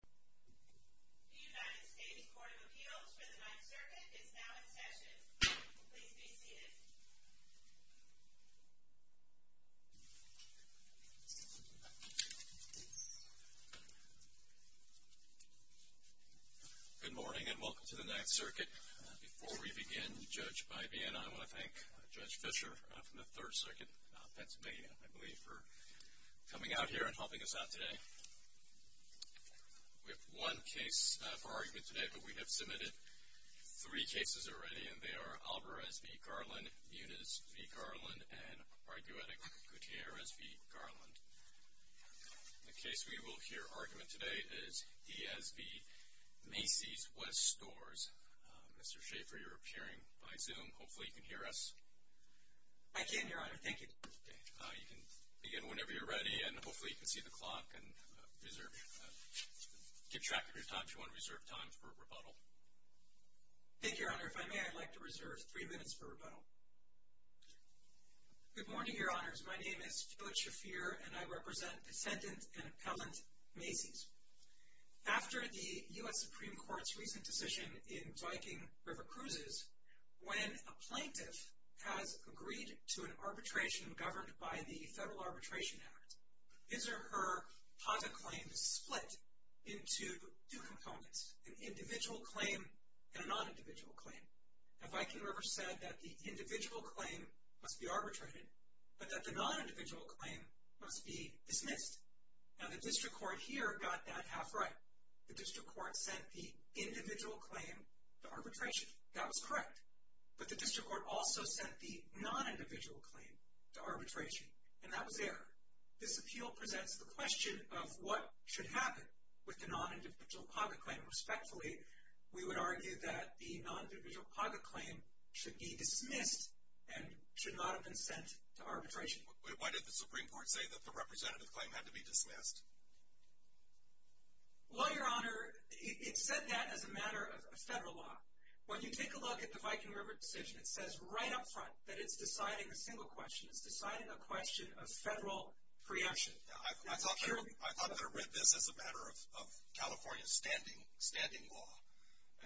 The United States Court of Appeals for the Ninth Circuit is now in session. Please be seated. Good morning and welcome to the Ninth Circuit. Before we begin, Judge Baivia and I want to thank Judge Fisher from the Third Circuit of Pennsylvania, I believe, for coming out here and helping us out today. We have one case for argument today, but we have submitted three cases already, and they are Alvarez v. Garland, Muniz v. Garland, and Arguetic Gutierrez v. Garland. The case we will hear argument today is Diaz v. Macys West Stores. Mr. Schaffer, you're appearing by Zoom. Hopefully you can hear us. I can, Your Honor. Thank you. You can begin whenever you're ready, and hopefully you can see the clock and keep track of your time, if you want to reserve time for rebuttal. Thank you, Your Honor. If I may, I'd like to reserve three minutes for rebuttal. Good morning, Your Honors. My name is Judge Schaffer, and I represent Descendant and Appellant Macys. After the U.S. Supreme Court's recent decision in Viking River Cruises, when a plaintiff has agreed to an arbitration governed by the Federal Arbitration Act, his or her positive claim is split into two components, an individual claim and a non-individual claim. Now, Viking River said that the individual claim must be arbitrated, but that the non-individual claim must be dismissed. Now, the District Court here got that half right. The District Court sent the individual claim to arbitration. That was correct. But the District Court also sent the non-individual claim to arbitration, and that was there. This appeal presents the question of what should happen with the non-individual positive claim. Respectfully, we would argue that the non-individual positive claim should be dismissed and should not have been sent to arbitration. Why did the Supreme Court say that the representative claim had to be dismissed? Well, Your Honor, it said that as a matter of Federal law. When you take a look at the Viking River decision, it says right up front that it's deciding a single question. It's deciding a question of Federal preemption. I thought they read this as a matter of California standing law.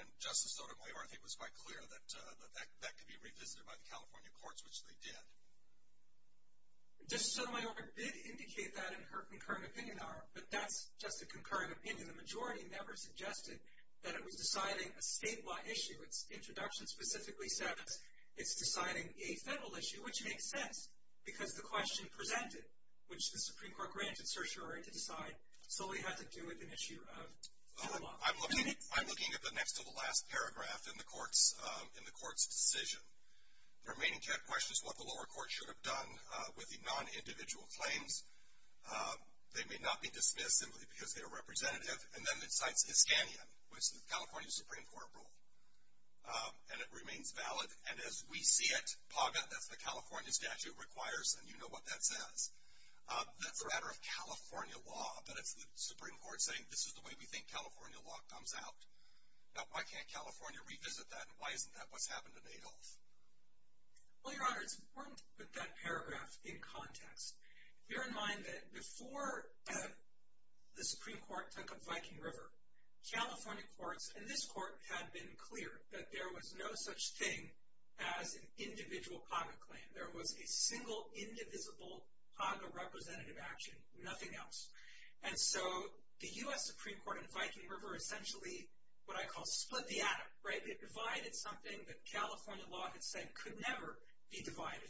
And Justice Sotomayor, I think, was quite clear that that could be revisited by the California courts, which they did. Justice Sotomayor did indicate that in her concurrent opinion, Your Honor, but that's just a concurrent opinion. The majority never suggested that it was deciding a statewide issue. Its introduction specifically says it's deciding a Federal issue, which makes sense because the question presented, which the Supreme Court granted certiorari to decide, solely had to do with an issue of Federal law. I'm looking at the next to the last paragraph in the court's decision. The remaining question is what the lower court should have done with the non-individual claims. They may not be dismissed simply because they are representative. And then it cites Iskanian, which is the California Supreme Court rule. And it remains valid. And as we see it, PAGA, that's the California statute, requires, and you know what that says, that's a matter of California law. But it's the Supreme Court saying this is the way we think California law comes out. Now, why can't California revisit that? And why isn't that what's happened in Adolph? Well, Your Honor, it's important to put that paragraph in context. Bear in mind that before the Supreme Court took up Viking River, California courts, and this court, had been clear that there was no such thing as an individual PAGA claim. There was a single, indivisible PAGA representative action, nothing else. And so the U.S. Supreme Court and Viking River essentially what I call split the atom, right? They divided something that California law had said could never be divided.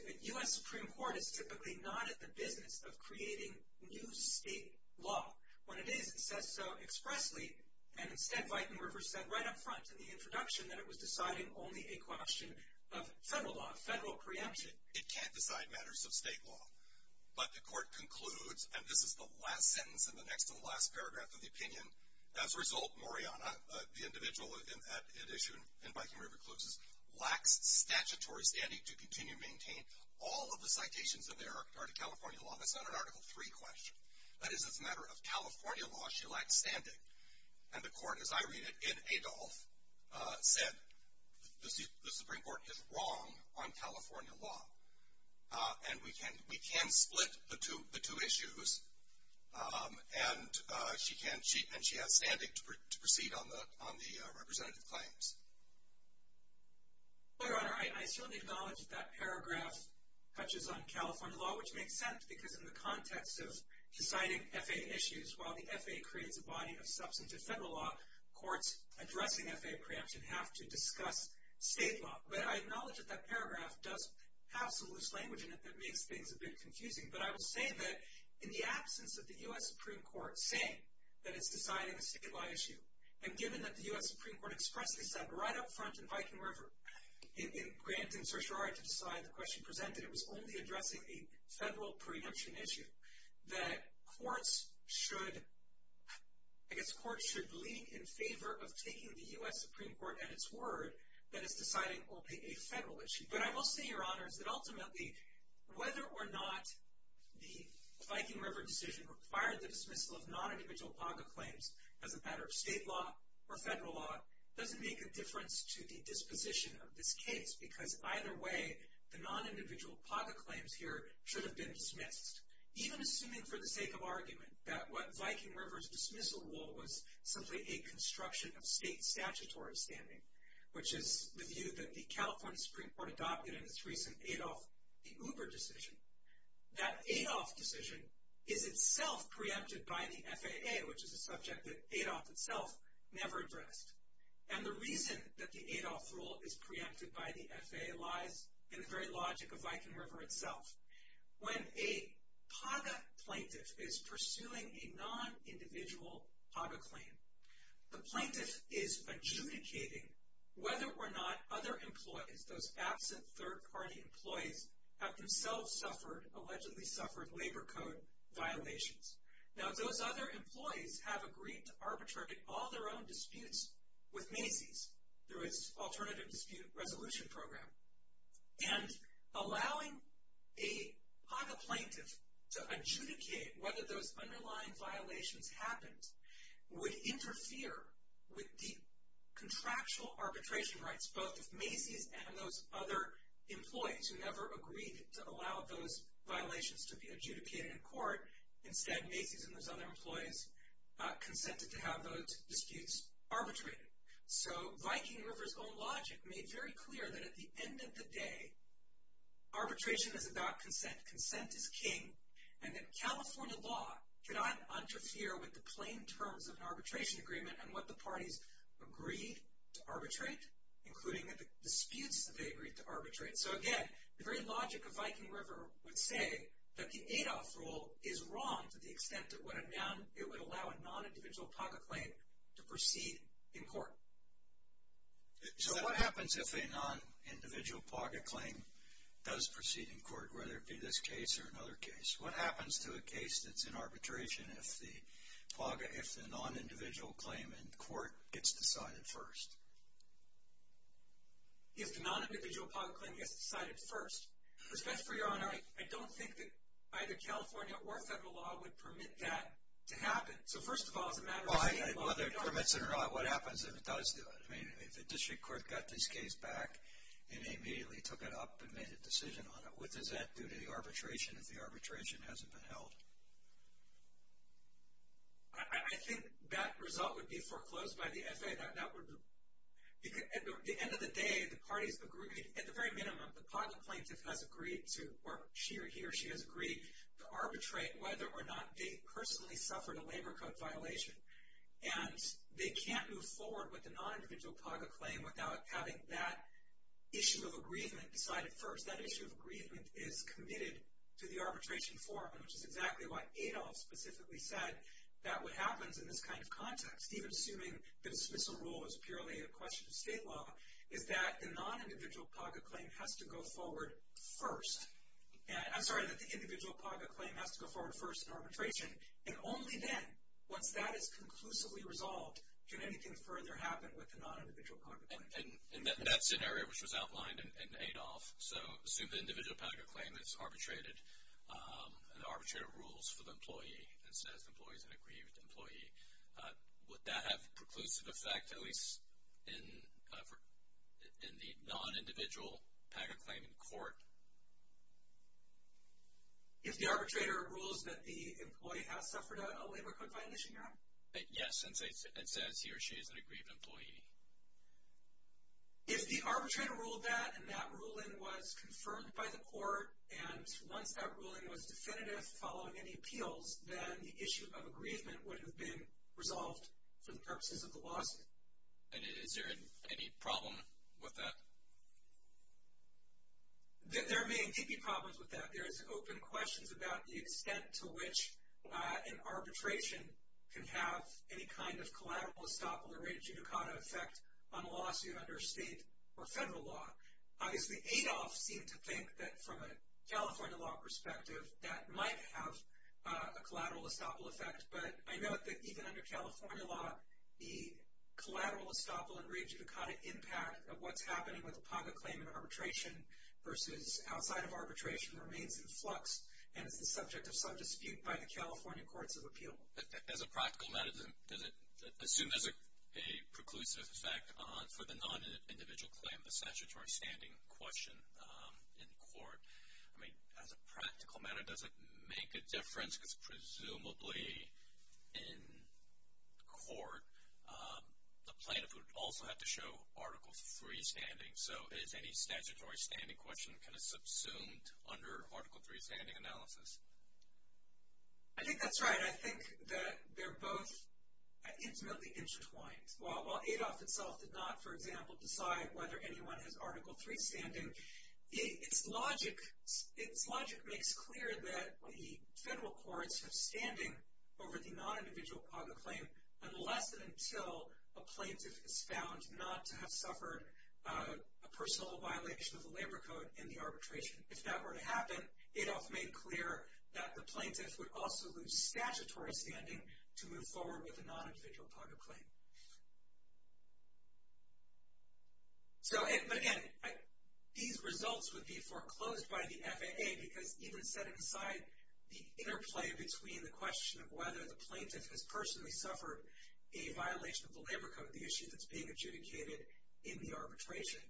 The U.S. Supreme Court is typically not in the business of creating new state law. When it is, it says so expressly. And instead, Viking River said right up front in the introduction that it was deciding only a question of federal law, federal preemption. It can't decide matters of state law. But the court concludes, and this is the last sentence in the next to the last paragraph of the opinion, as a result, Moriana, the individual at issue in Viking River, lacks statutory standing to continue to maintain all of the citations in there are to California law. That's not an Article III question. That is, as a matter of California law, she lacks standing. And the court, as I read it in Adolf, said the Supreme Court is wrong on California law. And we can split the two issues, and she has standing to proceed on the representative claims. Your Honor, I certainly acknowledge that that paragraph touches on California law, which makes sense, because in the context of deciding FAA issues, while the FAA creates a body of substantive federal law, courts addressing FAA preemption have to discuss state law. But I acknowledge that that paragraph does have some loose language in it that makes things a bit confusing. But I will say that in the absence of the U.S. Supreme Court saying that it's deciding a state law issue, and given that the U.S. Supreme Court expressly said right up front in Viking River, in granting certiorari to decide the question presented, it was only addressing a federal preemption issue, that courts should lead in favor of taking the U.S. Supreme Court at its word that it's deciding a federal issue. But I will say, Your Honors, that ultimately, whether or not the Viking River decision required the dismissal of non-individual PACA claims as a matter of state law or federal law doesn't make a difference to the disposition of this case, because either way, the non-individual PACA claims here should have been dismissed. Even assuming for the sake of argument that what Viking River's dismissal rule was simply a construction of state statutory standing, which is the view that the California Supreme Court adopted in its recent Adolf the Uber decision, that Adolf decision is itself preempted by the FAA, which is a subject that Adolf itself never addressed. And the reason that the Adolf rule is preempted by the FAA lies in the very logic of Viking River itself. When a PACA plaintiff is pursuing a non-individual PACA claim, the plaintiff is adjudicating whether or not other employees, those absent third-party employees, have themselves suffered, allegedly suffered, labor code violations. Now, those other employees have agreed to arbitrate all their own disputes with Macy's through its alternative dispute resolution program. And allowing a PACA plaintiff to adjudicate whether those underlying violations happened would interfere with the contractual arbitration rights both of Macy's and those other employees who never agreed to allow those violations to be adjudicated in court. Instead, Macy's and those other employees consented to have those disputes arbitrated. So, Viking River's own logic made very clear that at the end of the day, arbitration is about consent. Consent is king. And that California law cannot interfere with the plain terms of an arbitration agreement and what the parties agreed to arbitrate, including the disputes that they agreed to arbitrate. So, again, the very logic of Viking River would say that the Adolf rule is wrong to the extent that it would allow a non-individual PACA claim to proceed in court. So, what happens if a non-individual PACA claim does proceed in court, whether it be this case or another case? What happens to a case that's in arbitration if the PACA, if the non-individual claim in court gets decided first? If the non-individual PACA claim gets decided first? Because, best for your honor, I don't think that either California or federal law would permit that to happen. So, first of all, it's a matter of the state law. Well, whether it permits it or not, what happens if it does do it? I mean, if the district court got this case back and they immediately took it up and made a decision on it, what does that do to the arbitration if the arbitration hasn't been held? I think that result would be foreclosed by the FAA. That would be, at the end of the day, the parties agree, at the very minimum, the PACA plaintiff has agreed to, or she or he or she has agreed to arbitrate whether or not they personally suffered a labor code violation. And they can't move forward with a non-individual PACA claim without having that issue of agreement decided first. That issue of agreement is committed to the arbitration forum, which is exactly why Adolph specifically said that what happens in this kind of context, even assuming the dismissal rule is purely a question of state law, is that the non-individual PACA claim has to go forward first. I'm sorry, that the individual PACA claim has to go forward first in arbitration, and only then, once that is conclusively resolved, can anything further happen with the non-individual PACA claim. And that scenario, which was outlined in Adolph, so assume the individual PACA claim is arbitrated, and the arbitrator rules for the employee, and says the employee is an aggrieved employee, would that have a preclusive effect, at least in the non-individual PACA claim in court? If the arbitrator rules that the employee has suffered a labor code violation, yeah? Yes, and says he or she is an aggrieved employee. If the arbitrator ruled that, and that ruling was confirmed by the court, and once that ruling was definitive following any appeals, then the issue of aggrievement would have been resolved for the purposes of the lawsuit. And is there any problem with that? There may be problems with that. There is open questions about the extent to which an arbitration can have any kind of collateral estoppel or rate of judicata effect on a lawsuit under state or federal law. Obviously, Adolph seemed to think that from a California law perspective, that might have a collateral estoppel effect. But I note that even under California law, the collateral estoppel and rate of judicata impact of what's happening with a PACA claim in arbitration versus outside of arbitration remains in flux, and is the subject of some dispute by the California courts of appeal. As a practical matter, does it assume there's a preclusive effect for the non-individual claim, the statutory standing question in court? I mean, as a practical matter, does it make a difference? Because presumably in court, the plaintiff would also have to show Article III standing. So is any statutory standing question kind of subsumed under Article III standing analysis? I think that's right. I think that they're both intimately intertwined. While Adolph itself did not, for example, decide whether anyone has Article III standing, its logic makes clear that the federal courts have standing over the non-individual PACA claim unless and until a plaintiff is found not to have suffered a personal violation of the labor code in the arbitration. If that were to happen, Adolph made clear that the plaintiff would also lose statutory standing to move forward with a non-individual PACA claim. So, but again, these results would be foreclosed by the FAA because even set aside the interplay between the question of whether the plaintiff has personally suffered a violation of the labor code, the issue that's being adjudicated in the arbitration.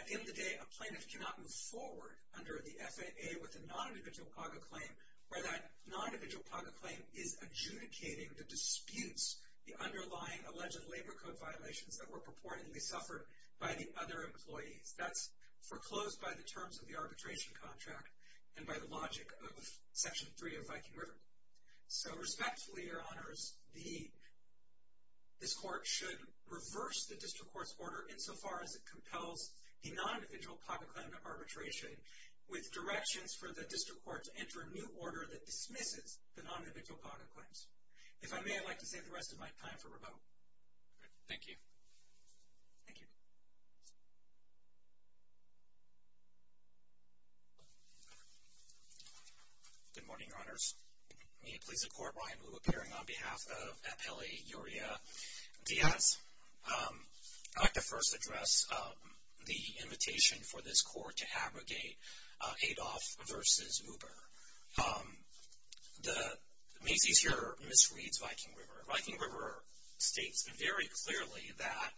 At the end of the day, a plaintiff cannot move forward under the FAA with a non-individual PACA claim where that non-individual PACA claim is adjudicating the disputes, the underlying alleged labor code violations that were purportedly suffered by the other employees. That's foreclosed by the terms of the arbitration contract and by the logic of Section III of Viking River. So respectfully, Your Honors, this court should reverse the district court's order insofar as it compels the non-individual PACA claim arbitration with directions for the district court to enter a new order that dismisses the non-individual PACA claims. If I may, I'd like to save the rest of my time for rebuttal. Thank you. Good morning, Your Honors. May it please the Court, Ryan Liu appearing on behalf of Appelli Uria Diaz. I'd like to first address the invitation for this court to abrogate Adolph v. Uber. Macy's here misreads Viking River. Viking River states very clearly that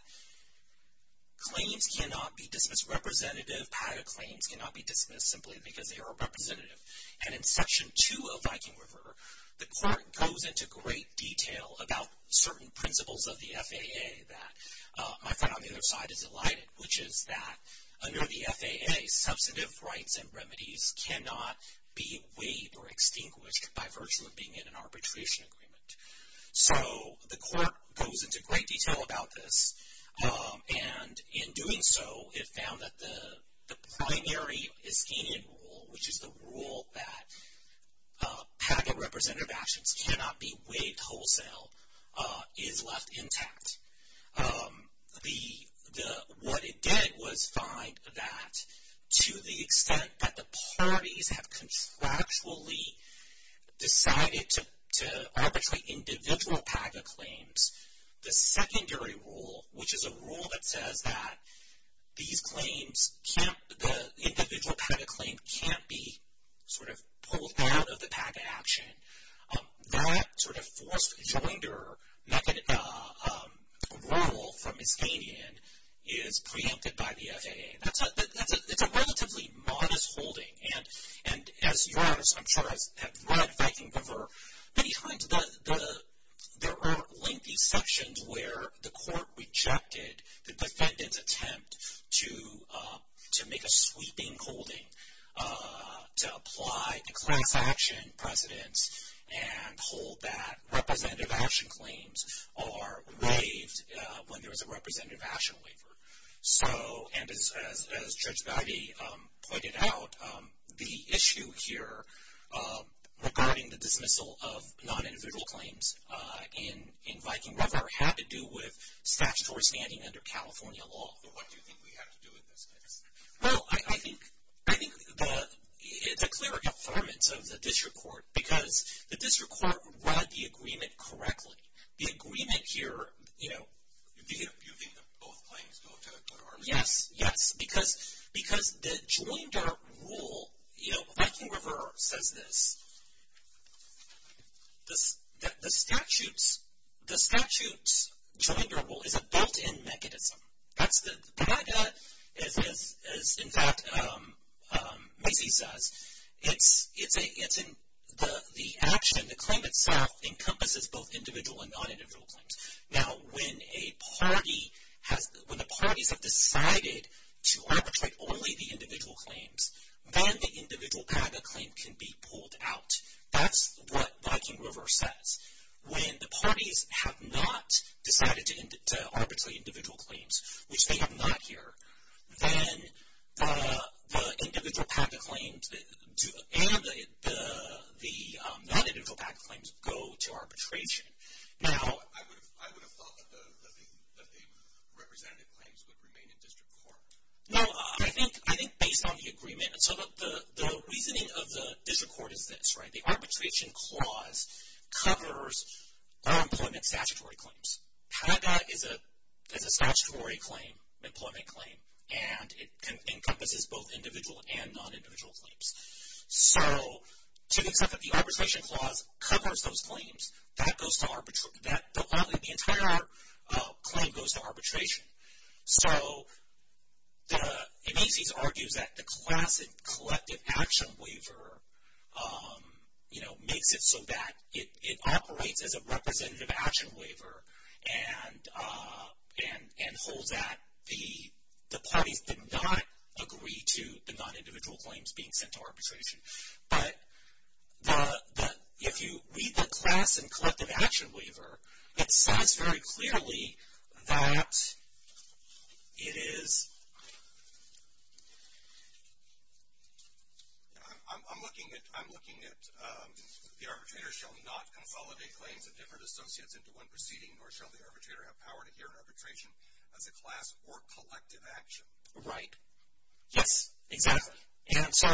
claims cannot be dismissed representative. PACA claims cannot be dismissed simply because they are representative. And in Section II of Viking River, the court goes into great detail about certain principles of the FAA that my friend on the other side has elided, which is that under the FAA, substantive rights and remedies cannot be waived or extinguished by virtue of being in an arbitration agreement. So the court goes into great detail about this. And in doing so, it found that the primary Iskenian rule, which is the rule that PACA representative actions cannot be waived wholesale, is left intact. What it did was find that to the extent that the parties have contractually decided to arbitrate individual PACA claims, the secondary rule, which is a rule that says that these claims can't, the individual PACA claim can't be sort of pulled out of the PACA action, that sort of forced joinder rule from Iskenian is preempted by the FAA. That's a relatively modest holding. And as your Honor, I'm sure has read Viking River many times, there are lengthy sections where the court rejected the defendant's attempt to make a sweeping holding, to apply class action precedents and hold that representative action claims are waived when there is a representative action waiver. And as Judge Bowdy pointed out, the issue here regarding the dismissal of non-individual claims in Viking River had to do with statutory standing under California law. What do you think we have to do in this case? Well, I think it's a clear affirmance of the district court because the district court read the agreement correctly. The agreement here, you know, You think that both claims go to the court of arbitration? Yes, yes. Because the joinder rule, you know, Viking River says this, the statute's joinder rule is a built-in mechanism. That's the joinder. As, in fact, Macy says, it's in the action, the claim itself encompasses both individual and non-individual claims. Now, when a party has, when the parties have decided to arbitrate only the individual claims, then the individual joinder claim can be pulled out. That's what Viking River says. When the parties have not decided to arbitrate individual claims, which they have not here, then the individual PACA claims and the non-individual PACA claims go to arbitration. Now, I would have thought that the representative claims would remain in district court. No, I think based on the agreement, and so the reasoning of the district court is this, right? The arbitration clause covers all employment statutory claims. PACA is a statutory claim, employment claim, and it encompasses both individual and non-individual claims. So, to the extent that the arbitration clause covers those claims, that goes to arbitration, the entire claim goes to arbitration. So, the, Macy's argues that the class and collective action waiver, you know, makes it so that it operates as a representative action waiver and holds that the parties did not agree to the non-individual claims being sent to arbitration. But the, if you read the class and collective action waiver, it says very clearly that it is. I'm looking at, I'm looking at the arbitrator shall not consolidate claims of different associates into one proceeding, nor shall the arbitrator have power to hear an arbitration as a class or collective action. Right. Yes, exactly. And so,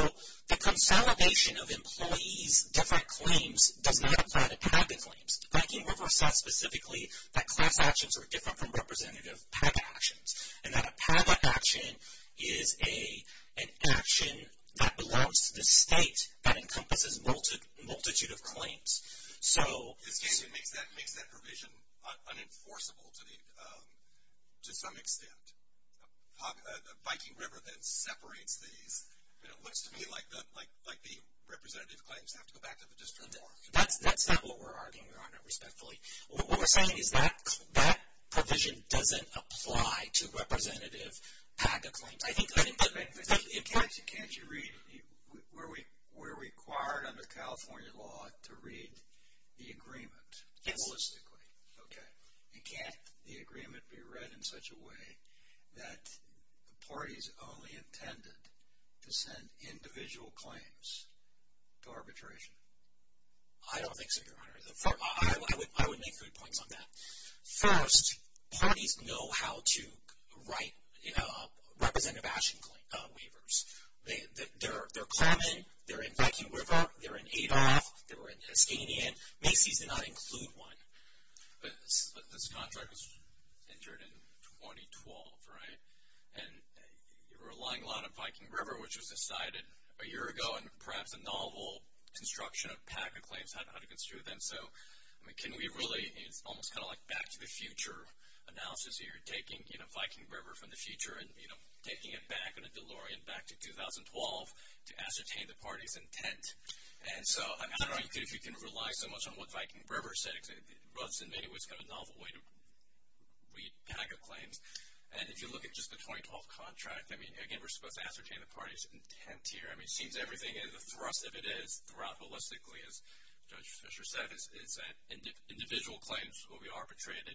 the consolidation of employees' different claims does not apply to PACA claims. Viking River says specifically that class actions are different from representative PACA actions, and that a PACA action is a, an action that belongs to the state that encompasses multitude of claims. So. It makes that provision unenforceable to the, to some extent. The Viking River then separates these. And it looks to me like the, like the representative claims have to go back to the district court. That's not what we're arguing, Your Honor, respectfully. What we're saying is that, that provision doesn't apply to representative PACA claims. Can't you read, we're required under California law to read the agreement. Yes. Holistically. Okay. And can't the agreement be read in such a way that the parties only intended to send individual claims to arbitration? I don't think so, Your Honor. I would make three points on that. First, parties know how to write representative action waivers. They're claiming they're in Viking River, they're in Adolph, they're in Eskanian. Macy's did not include one. But this contract was entered in 2012, right? And you're relying a lot on Viking River, which was decided a year ago, and perhaps a novel construction of PACA claims, how to construe them. So can we really, it's almost kind of like back to the future analysis here, taking Viking River from the future and taking it back on a DeLorean back to 2012 to ascertain the party's intent. And so I don't know if you can rely so much on what Viking River said, because it was in many ways kind of a novel way to read PACA claims. And if you look at just the 2012 contract, I mean, again, we're supposed to ascertain the party's intent here. I mean, it seems everything, the thrust of it is, throughout holistically, as Judge Fischer said, is that individual claims will be arbitrated,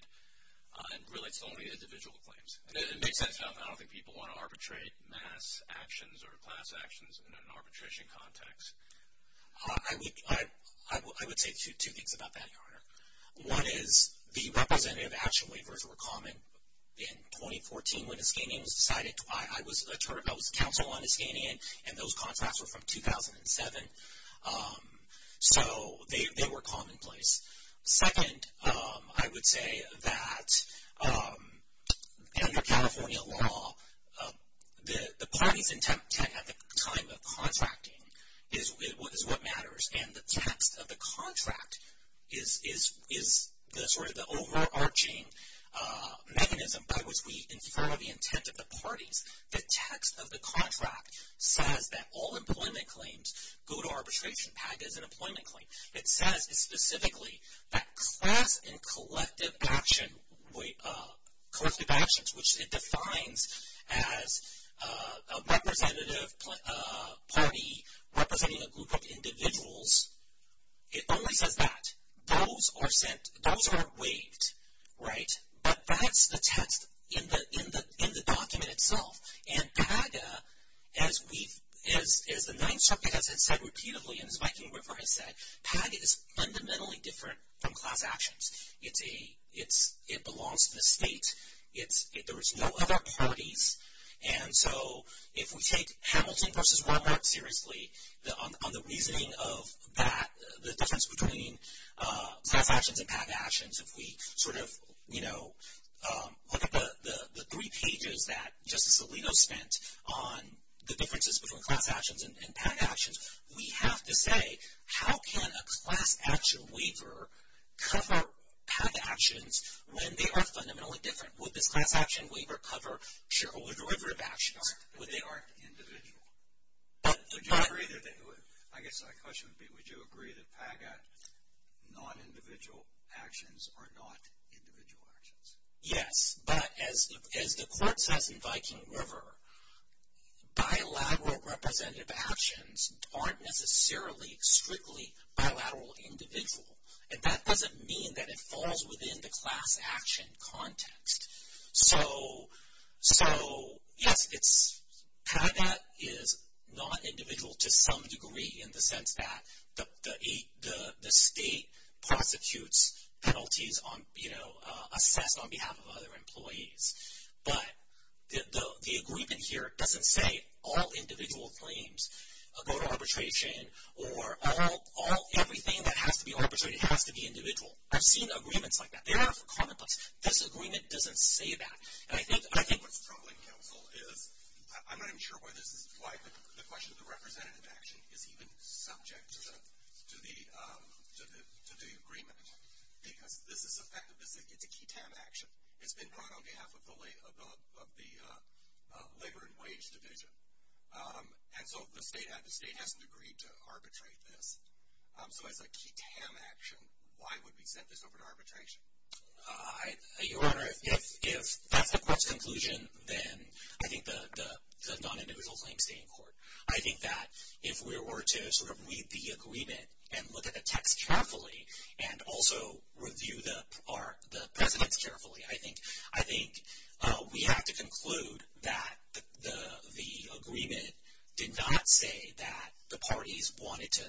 and really it's only individual claims. It makes sense. I don't think people want to arbitrate mass actions or class actions in an arbitration context. I would say two things about that, Your Honor. One is the representative action waivers were common in 2014 when Eskanian was decided. I was counsel on Eskanian, and those contracts were from 2007. So they were commonplace. Second, I would say that under California law, the party's intent at the time of contracting is what matters, and the text of the contract is sort of the overarching mechanism by which we infer the intent of the parties. The text of the contract says that all employment claims go to arbitration. PACA is an employment claim. It says specifically that class and collective action, collective actions, which it defines as a representative party representing a group of individuals, it only says that. Those are waived, right? But that's the text in the document itself. And PACA, as the Ninth Circuit has said repeatedly and as Viking River has said, PACA is fundamentally different from class actions. It belongs to the state. There is no other parties. And so if we take Hamilton v. Walmart seriously, on the reasoning of that, the difference between class actions and PAC actions, if we sort of, you know, look at the three pages that Justice Alito spent on the differences between class actions and PAC actions, we have to say, how can a class action waiver cover PAC actions when they are fundamentally different? Would this class action waiver cover Sherwood River actions? Would they aren't individual? I guess my question would be, would you agree that PACA non-individual actions are not individual actions? Yes. But as the court says in Viking River, bilateral representative actions aren't necessarily strictly bilateral individual. And that doesn't mean that it falls within the class action context. So, yes, PACA is not individual to some degree in the sense that the state prosecutes penalties on, you know, assessed on behalf of other employees. But the agreement here doesn't say all individual claims go to arbitration or everything that has to be arbitrated has to be individual. I've seen agreements like that. They are commonplace. This agreement doesn't say that. And I think what's troubling, counsel, is I'm not even sure why this is, why the question of the representative action is even subject to the agreement. Because this is effective, it's a key TAM action. It's been brought on behalf of the Labor and Wage Division. And so the state hasn't agreed to arbitrate this. So as a key TAM action, why would we send this over to arbitration? Your Honor, if that's the court's conclusion, then I think the non-individual claims stay in court. I think that if we were to sort of read the agreement and look at the text carefully and also review the precedents carefully, I think we have to conclude that the agreement did not say that the parties wanted to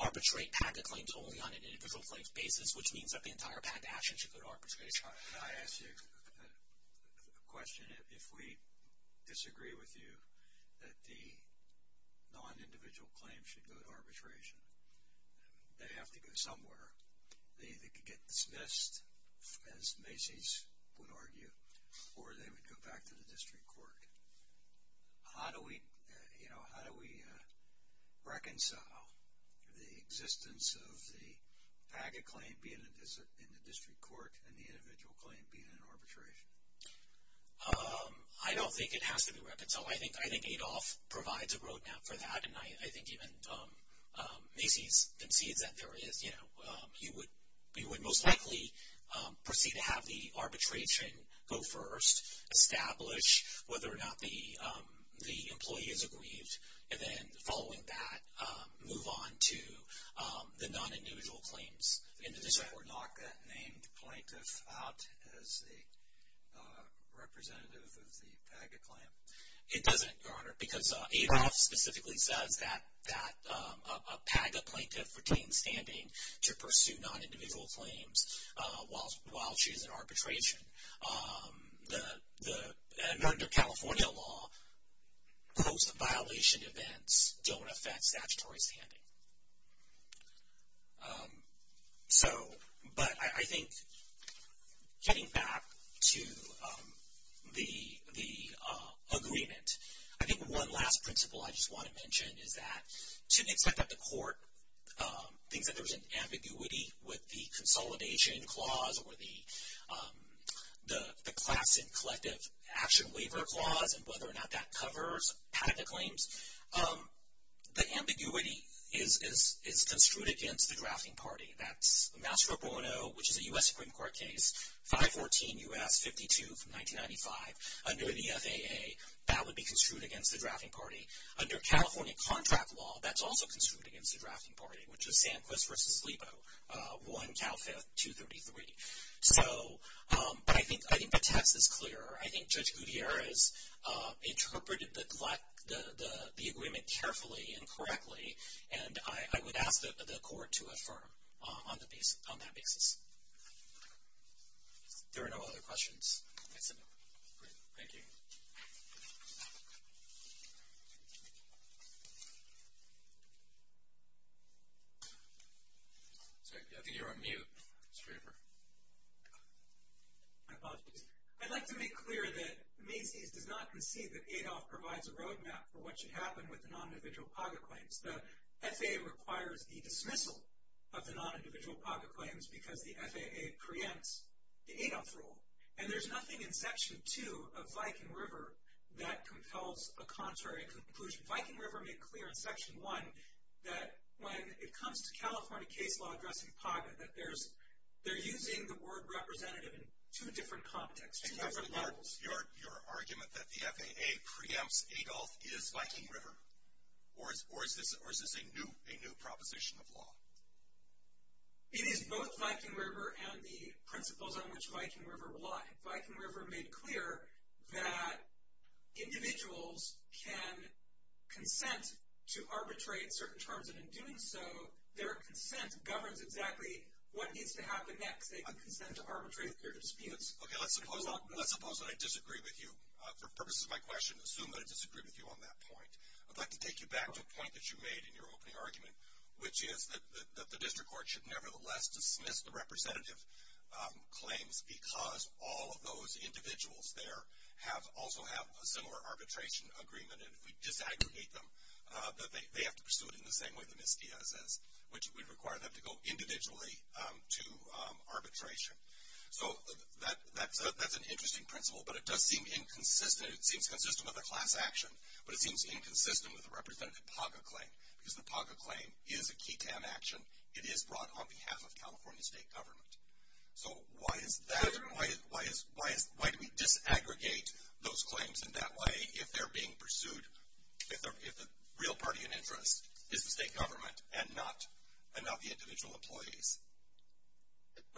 arbitrate PACA claims only on an individual claims basis, which means that the entire PACA action should go to arbitration. I ask you a question. If we disagree with you that the non-individual claims should go to arbitration, they have to go somewhere. They could get dismissed, as Macy's would argue, or they would go back to the district court. How do we reconcile the existence of the PACA claim being in the district court and the individual claim being in arbitration? I don't think it has to be reconciled. I think Adolph provides a roadmap for that, and I think even Macy's concedes that there is. He would most likely proceed to have the arbitration go first, establish whether or not the employee is aggrieved, and then following that, move on to the non-individual claims in the district court. Does the court knock that named plaintiff out as a representative of the PACA claim? It doesn't, Your Honor, because Adolph specifically says that a PACA plaintiff retains standing to pursue non-individual claims while she's in arbitration. Under California law, post-violation events don't affect statutory standing. So, but I think getting back to the agreement, I think one last principle I just want to mention is that to the extent that the court thinks that there's an ambiguity with the consolidation clause or the class and collective action waiver clause and whether or not that covers PACA claims, the ambiguity is construed against the drafting party. That's Mastro Bono, which is a U.S. Supreme Court case, 514 U.S., 52 from 1995. Under the FAA, that would be construed against the drafting party. Under California contract law, that's also construed against the drafting party, which is Sanquist v. Lebo, 1 Cal 5233. So, but I think the text is clear. I think Judge Gutierrez interpreted the agreement carefully and correctly, and I would ask the court to affirm on that basis. If there are no other questions, that's it. Thank you. I think you're on mute. I'd like to make clear that Macy's does not concede that ADOF provides a roadmap for what should happen with the non-individual PAGA claims. The FAA requires the dismissal of the non-individual PAGA claims because the FAA preempts the ADOF rule, and there's nothing in Section 2 of Viking River that compels a contrary conclusion. Viking River made clear in Section 1 that when it comes to California case law addressing PAGA, that they're using the word representative in two different contexts, two different levels. Your argument that the FAA preempts ADOF is Viking River, or is this a new proposition of law? It is both Viking River and the principles on which Viking River lie. Viking River made clear that individuals can consent to arbitrate certain terms, and in doing so, their consent governs exactly what needs to happen next. They can consent to arbitrate their disputes. Okay, let's suppose that I disagree with you. For purposes of my question, assume that I disagree with you on that point. I'd like to take you back to a point that you made in your opening argument, which is that the district court should nevertheless dismiss the representative claims because all of those individuals there also have a similar arbitration agreement, and if we disaggregate them, they have to pursue it in the same way that Ms. Diaz does, which would require them to go individually to arbitration. So that's an interesting principle, but it does seem inconsistent. It seems consistent with a class action, but it seems inconsistent with a representative PAGA claim because the PAGA claim is a key to an action. It is brought on behalf of California state government. So why do we disaggregate those claims in that way if they're being pursued, if the real party in interest is the state government and not the individual employees?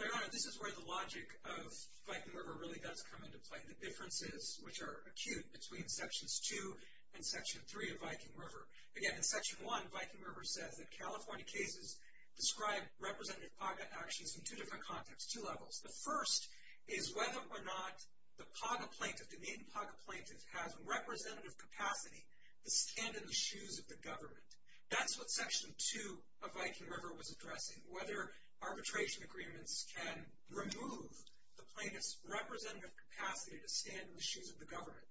Your Honor, this is where the logic of Viking River really does come into play, the differences which are acute between Sections 2 and Section 3 of Viking River. Again, in Section 1, Viking River says that California cases describe representative PAGA actions in two different contexts, two levels. The first is whether or not the PAGA plaintiff, the named PAGA plaintiff, has representative capacity to stand in the shoes of the government. That's what Section 2 of Viking River was addressing, whether arbitration agreements can remove the plaintiff's representative capacity to stand in the shoes of the government.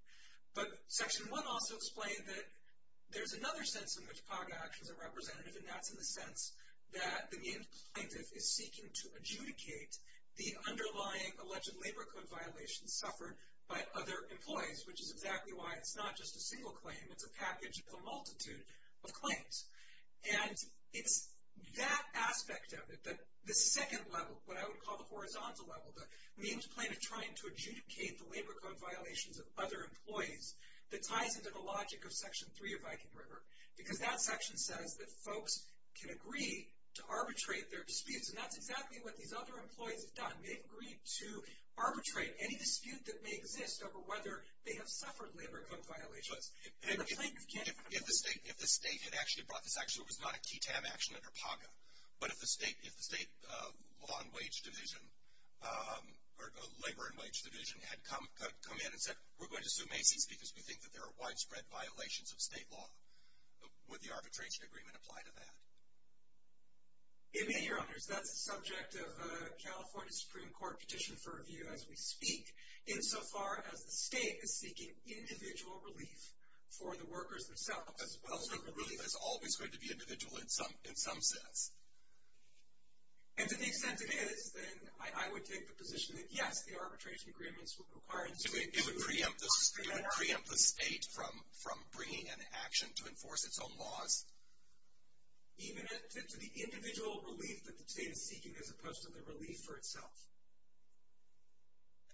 But Section 1 also explained that there's another sense in which PAGA actions are representative, and that's in the sense that the named plaintiff is seeking to adjudicate the underlying alleged labor code violations suffered by other employees, which is exactly why it's not just a single claim. It's a package of a multitude of claims. And it's that aspect of it, the second level, what I would call the horizontal level, the named plaintiff trying to adjudicate the labor code violations of other employees, that ties into the logic of Section 3 of Viking River, because that section says that folks can agree to arbitrate their disputes, and that's exactly what these other employees have done. They've agreed to arbitrate any dispute that may exist over whether they have suffered labor code violations. If the state had actually brought this action, it was not a TTAB action under PAGA, but if the state law and wage division, or labor and wage division, had come in and said, we're going to sue Macy's because we think that there are widespread violations of state law, would the arbitration agreement apply to that? It may, Your Honors. That's a subject of a California Supreme Court petition for review as we speak, insofar as the state is seeking individual relief for the workers themselves. I don't think the relief is always going to be individual in some sense. And to the extent it is, then I would take the position that, yes, the arbitration agreements would require the state to sue Macy's. It would preempt the state from bringing an action to enforce its own laws. Even to the individual relief that the state is seeking as opposed to the relief for itself.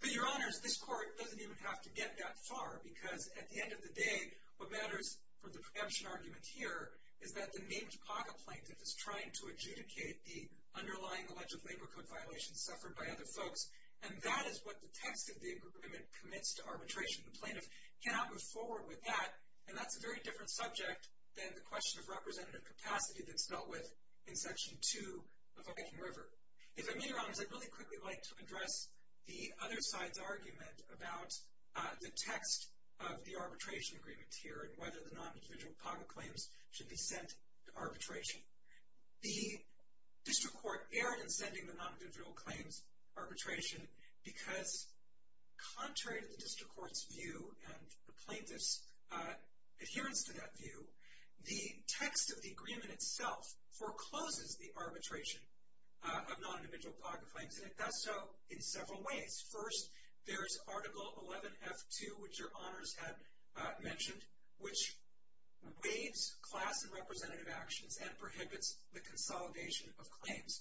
But, Your Honors, this court doesn't even have to get that far, because at the end of the day, what matters for the preemption argument here is that the named PAGA plaintiff is trying to adjudicate the underlying alleged labor code violations suffered by other folks, and that is what the text of the agreement commits to arbitration. The plaintiff cannot move forward with that, and that's a very different subject than the question of representative capacity that's dealt with in Section 2 of the Viking River. If I may, Your Honors, I'd really quickly like to address the other side's argument about the text of the arbitration agreement here and whether the non-individual PAGA claims should be sent to arbitration. The district court erred in sending the non-individual claims arbitration because contrary to the district court's view and the plaintiff's adherence to that view, the text of the agreement itself forecloses the arbitration of non-individual PAGA claims, and it does so in several ways. First, there's Article 11F2, which Your Honors had mentioned, which waives class and representative actions and prohibits the consolidation of claims.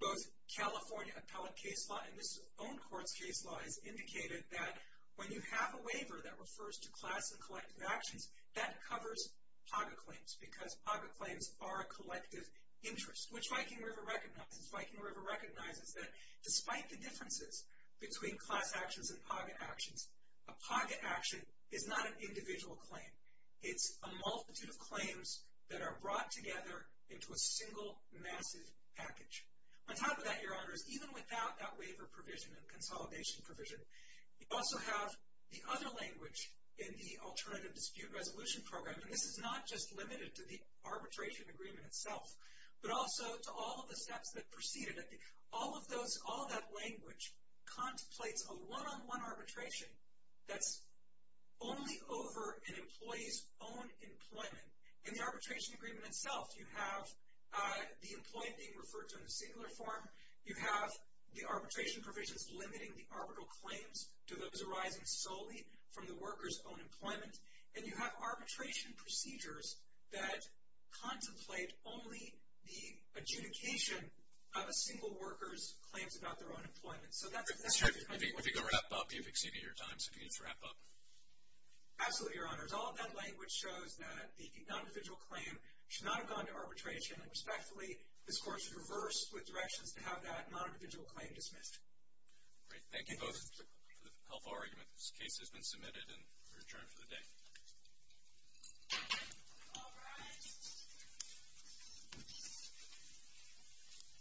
Both California appellate case law and this own court's case law has indicated that when you have a waiver that refers to class and collective actions, that covers PAGA claims because PAGA claims are a collective interest, which Viking River recognizes. Viking River recognizes that despite the differences between class actions and PAGA actions, a PAGA action is not an individual claim. It's a multitude of claims that are brought together into a single massive package. On top of that, Your Honors, even without that waiver provision and consolidation provision, you also have the other language in the Alternative Dispute Resolution Program, and this is not just limited to the arbitration agreement itself, but also to all of the steps that preceded it. All of that language contemplates a one-on-one arbitration that's only over an employee's own employment. In the arbitration agreement itself, you have the employee being referred to in the singular form, you have the arbitration provisions limiting the arbitral claims to those arising solely from the worker's own employment, and you have arbitration procedures that contemplate only the adjudication of a single worker's claims about their own employment. If you could wrap up, you've exceeded your time, so can you just wrap up? Absolutely, Your Honors. All of that language shows that the non-individual claim should not have gone to arbitration, and respectfully, this Court has reversed with directions to have that non-individual claim dismissed. Thank you both for the helpful argument. This case has been submitted and we're adjourned for the day.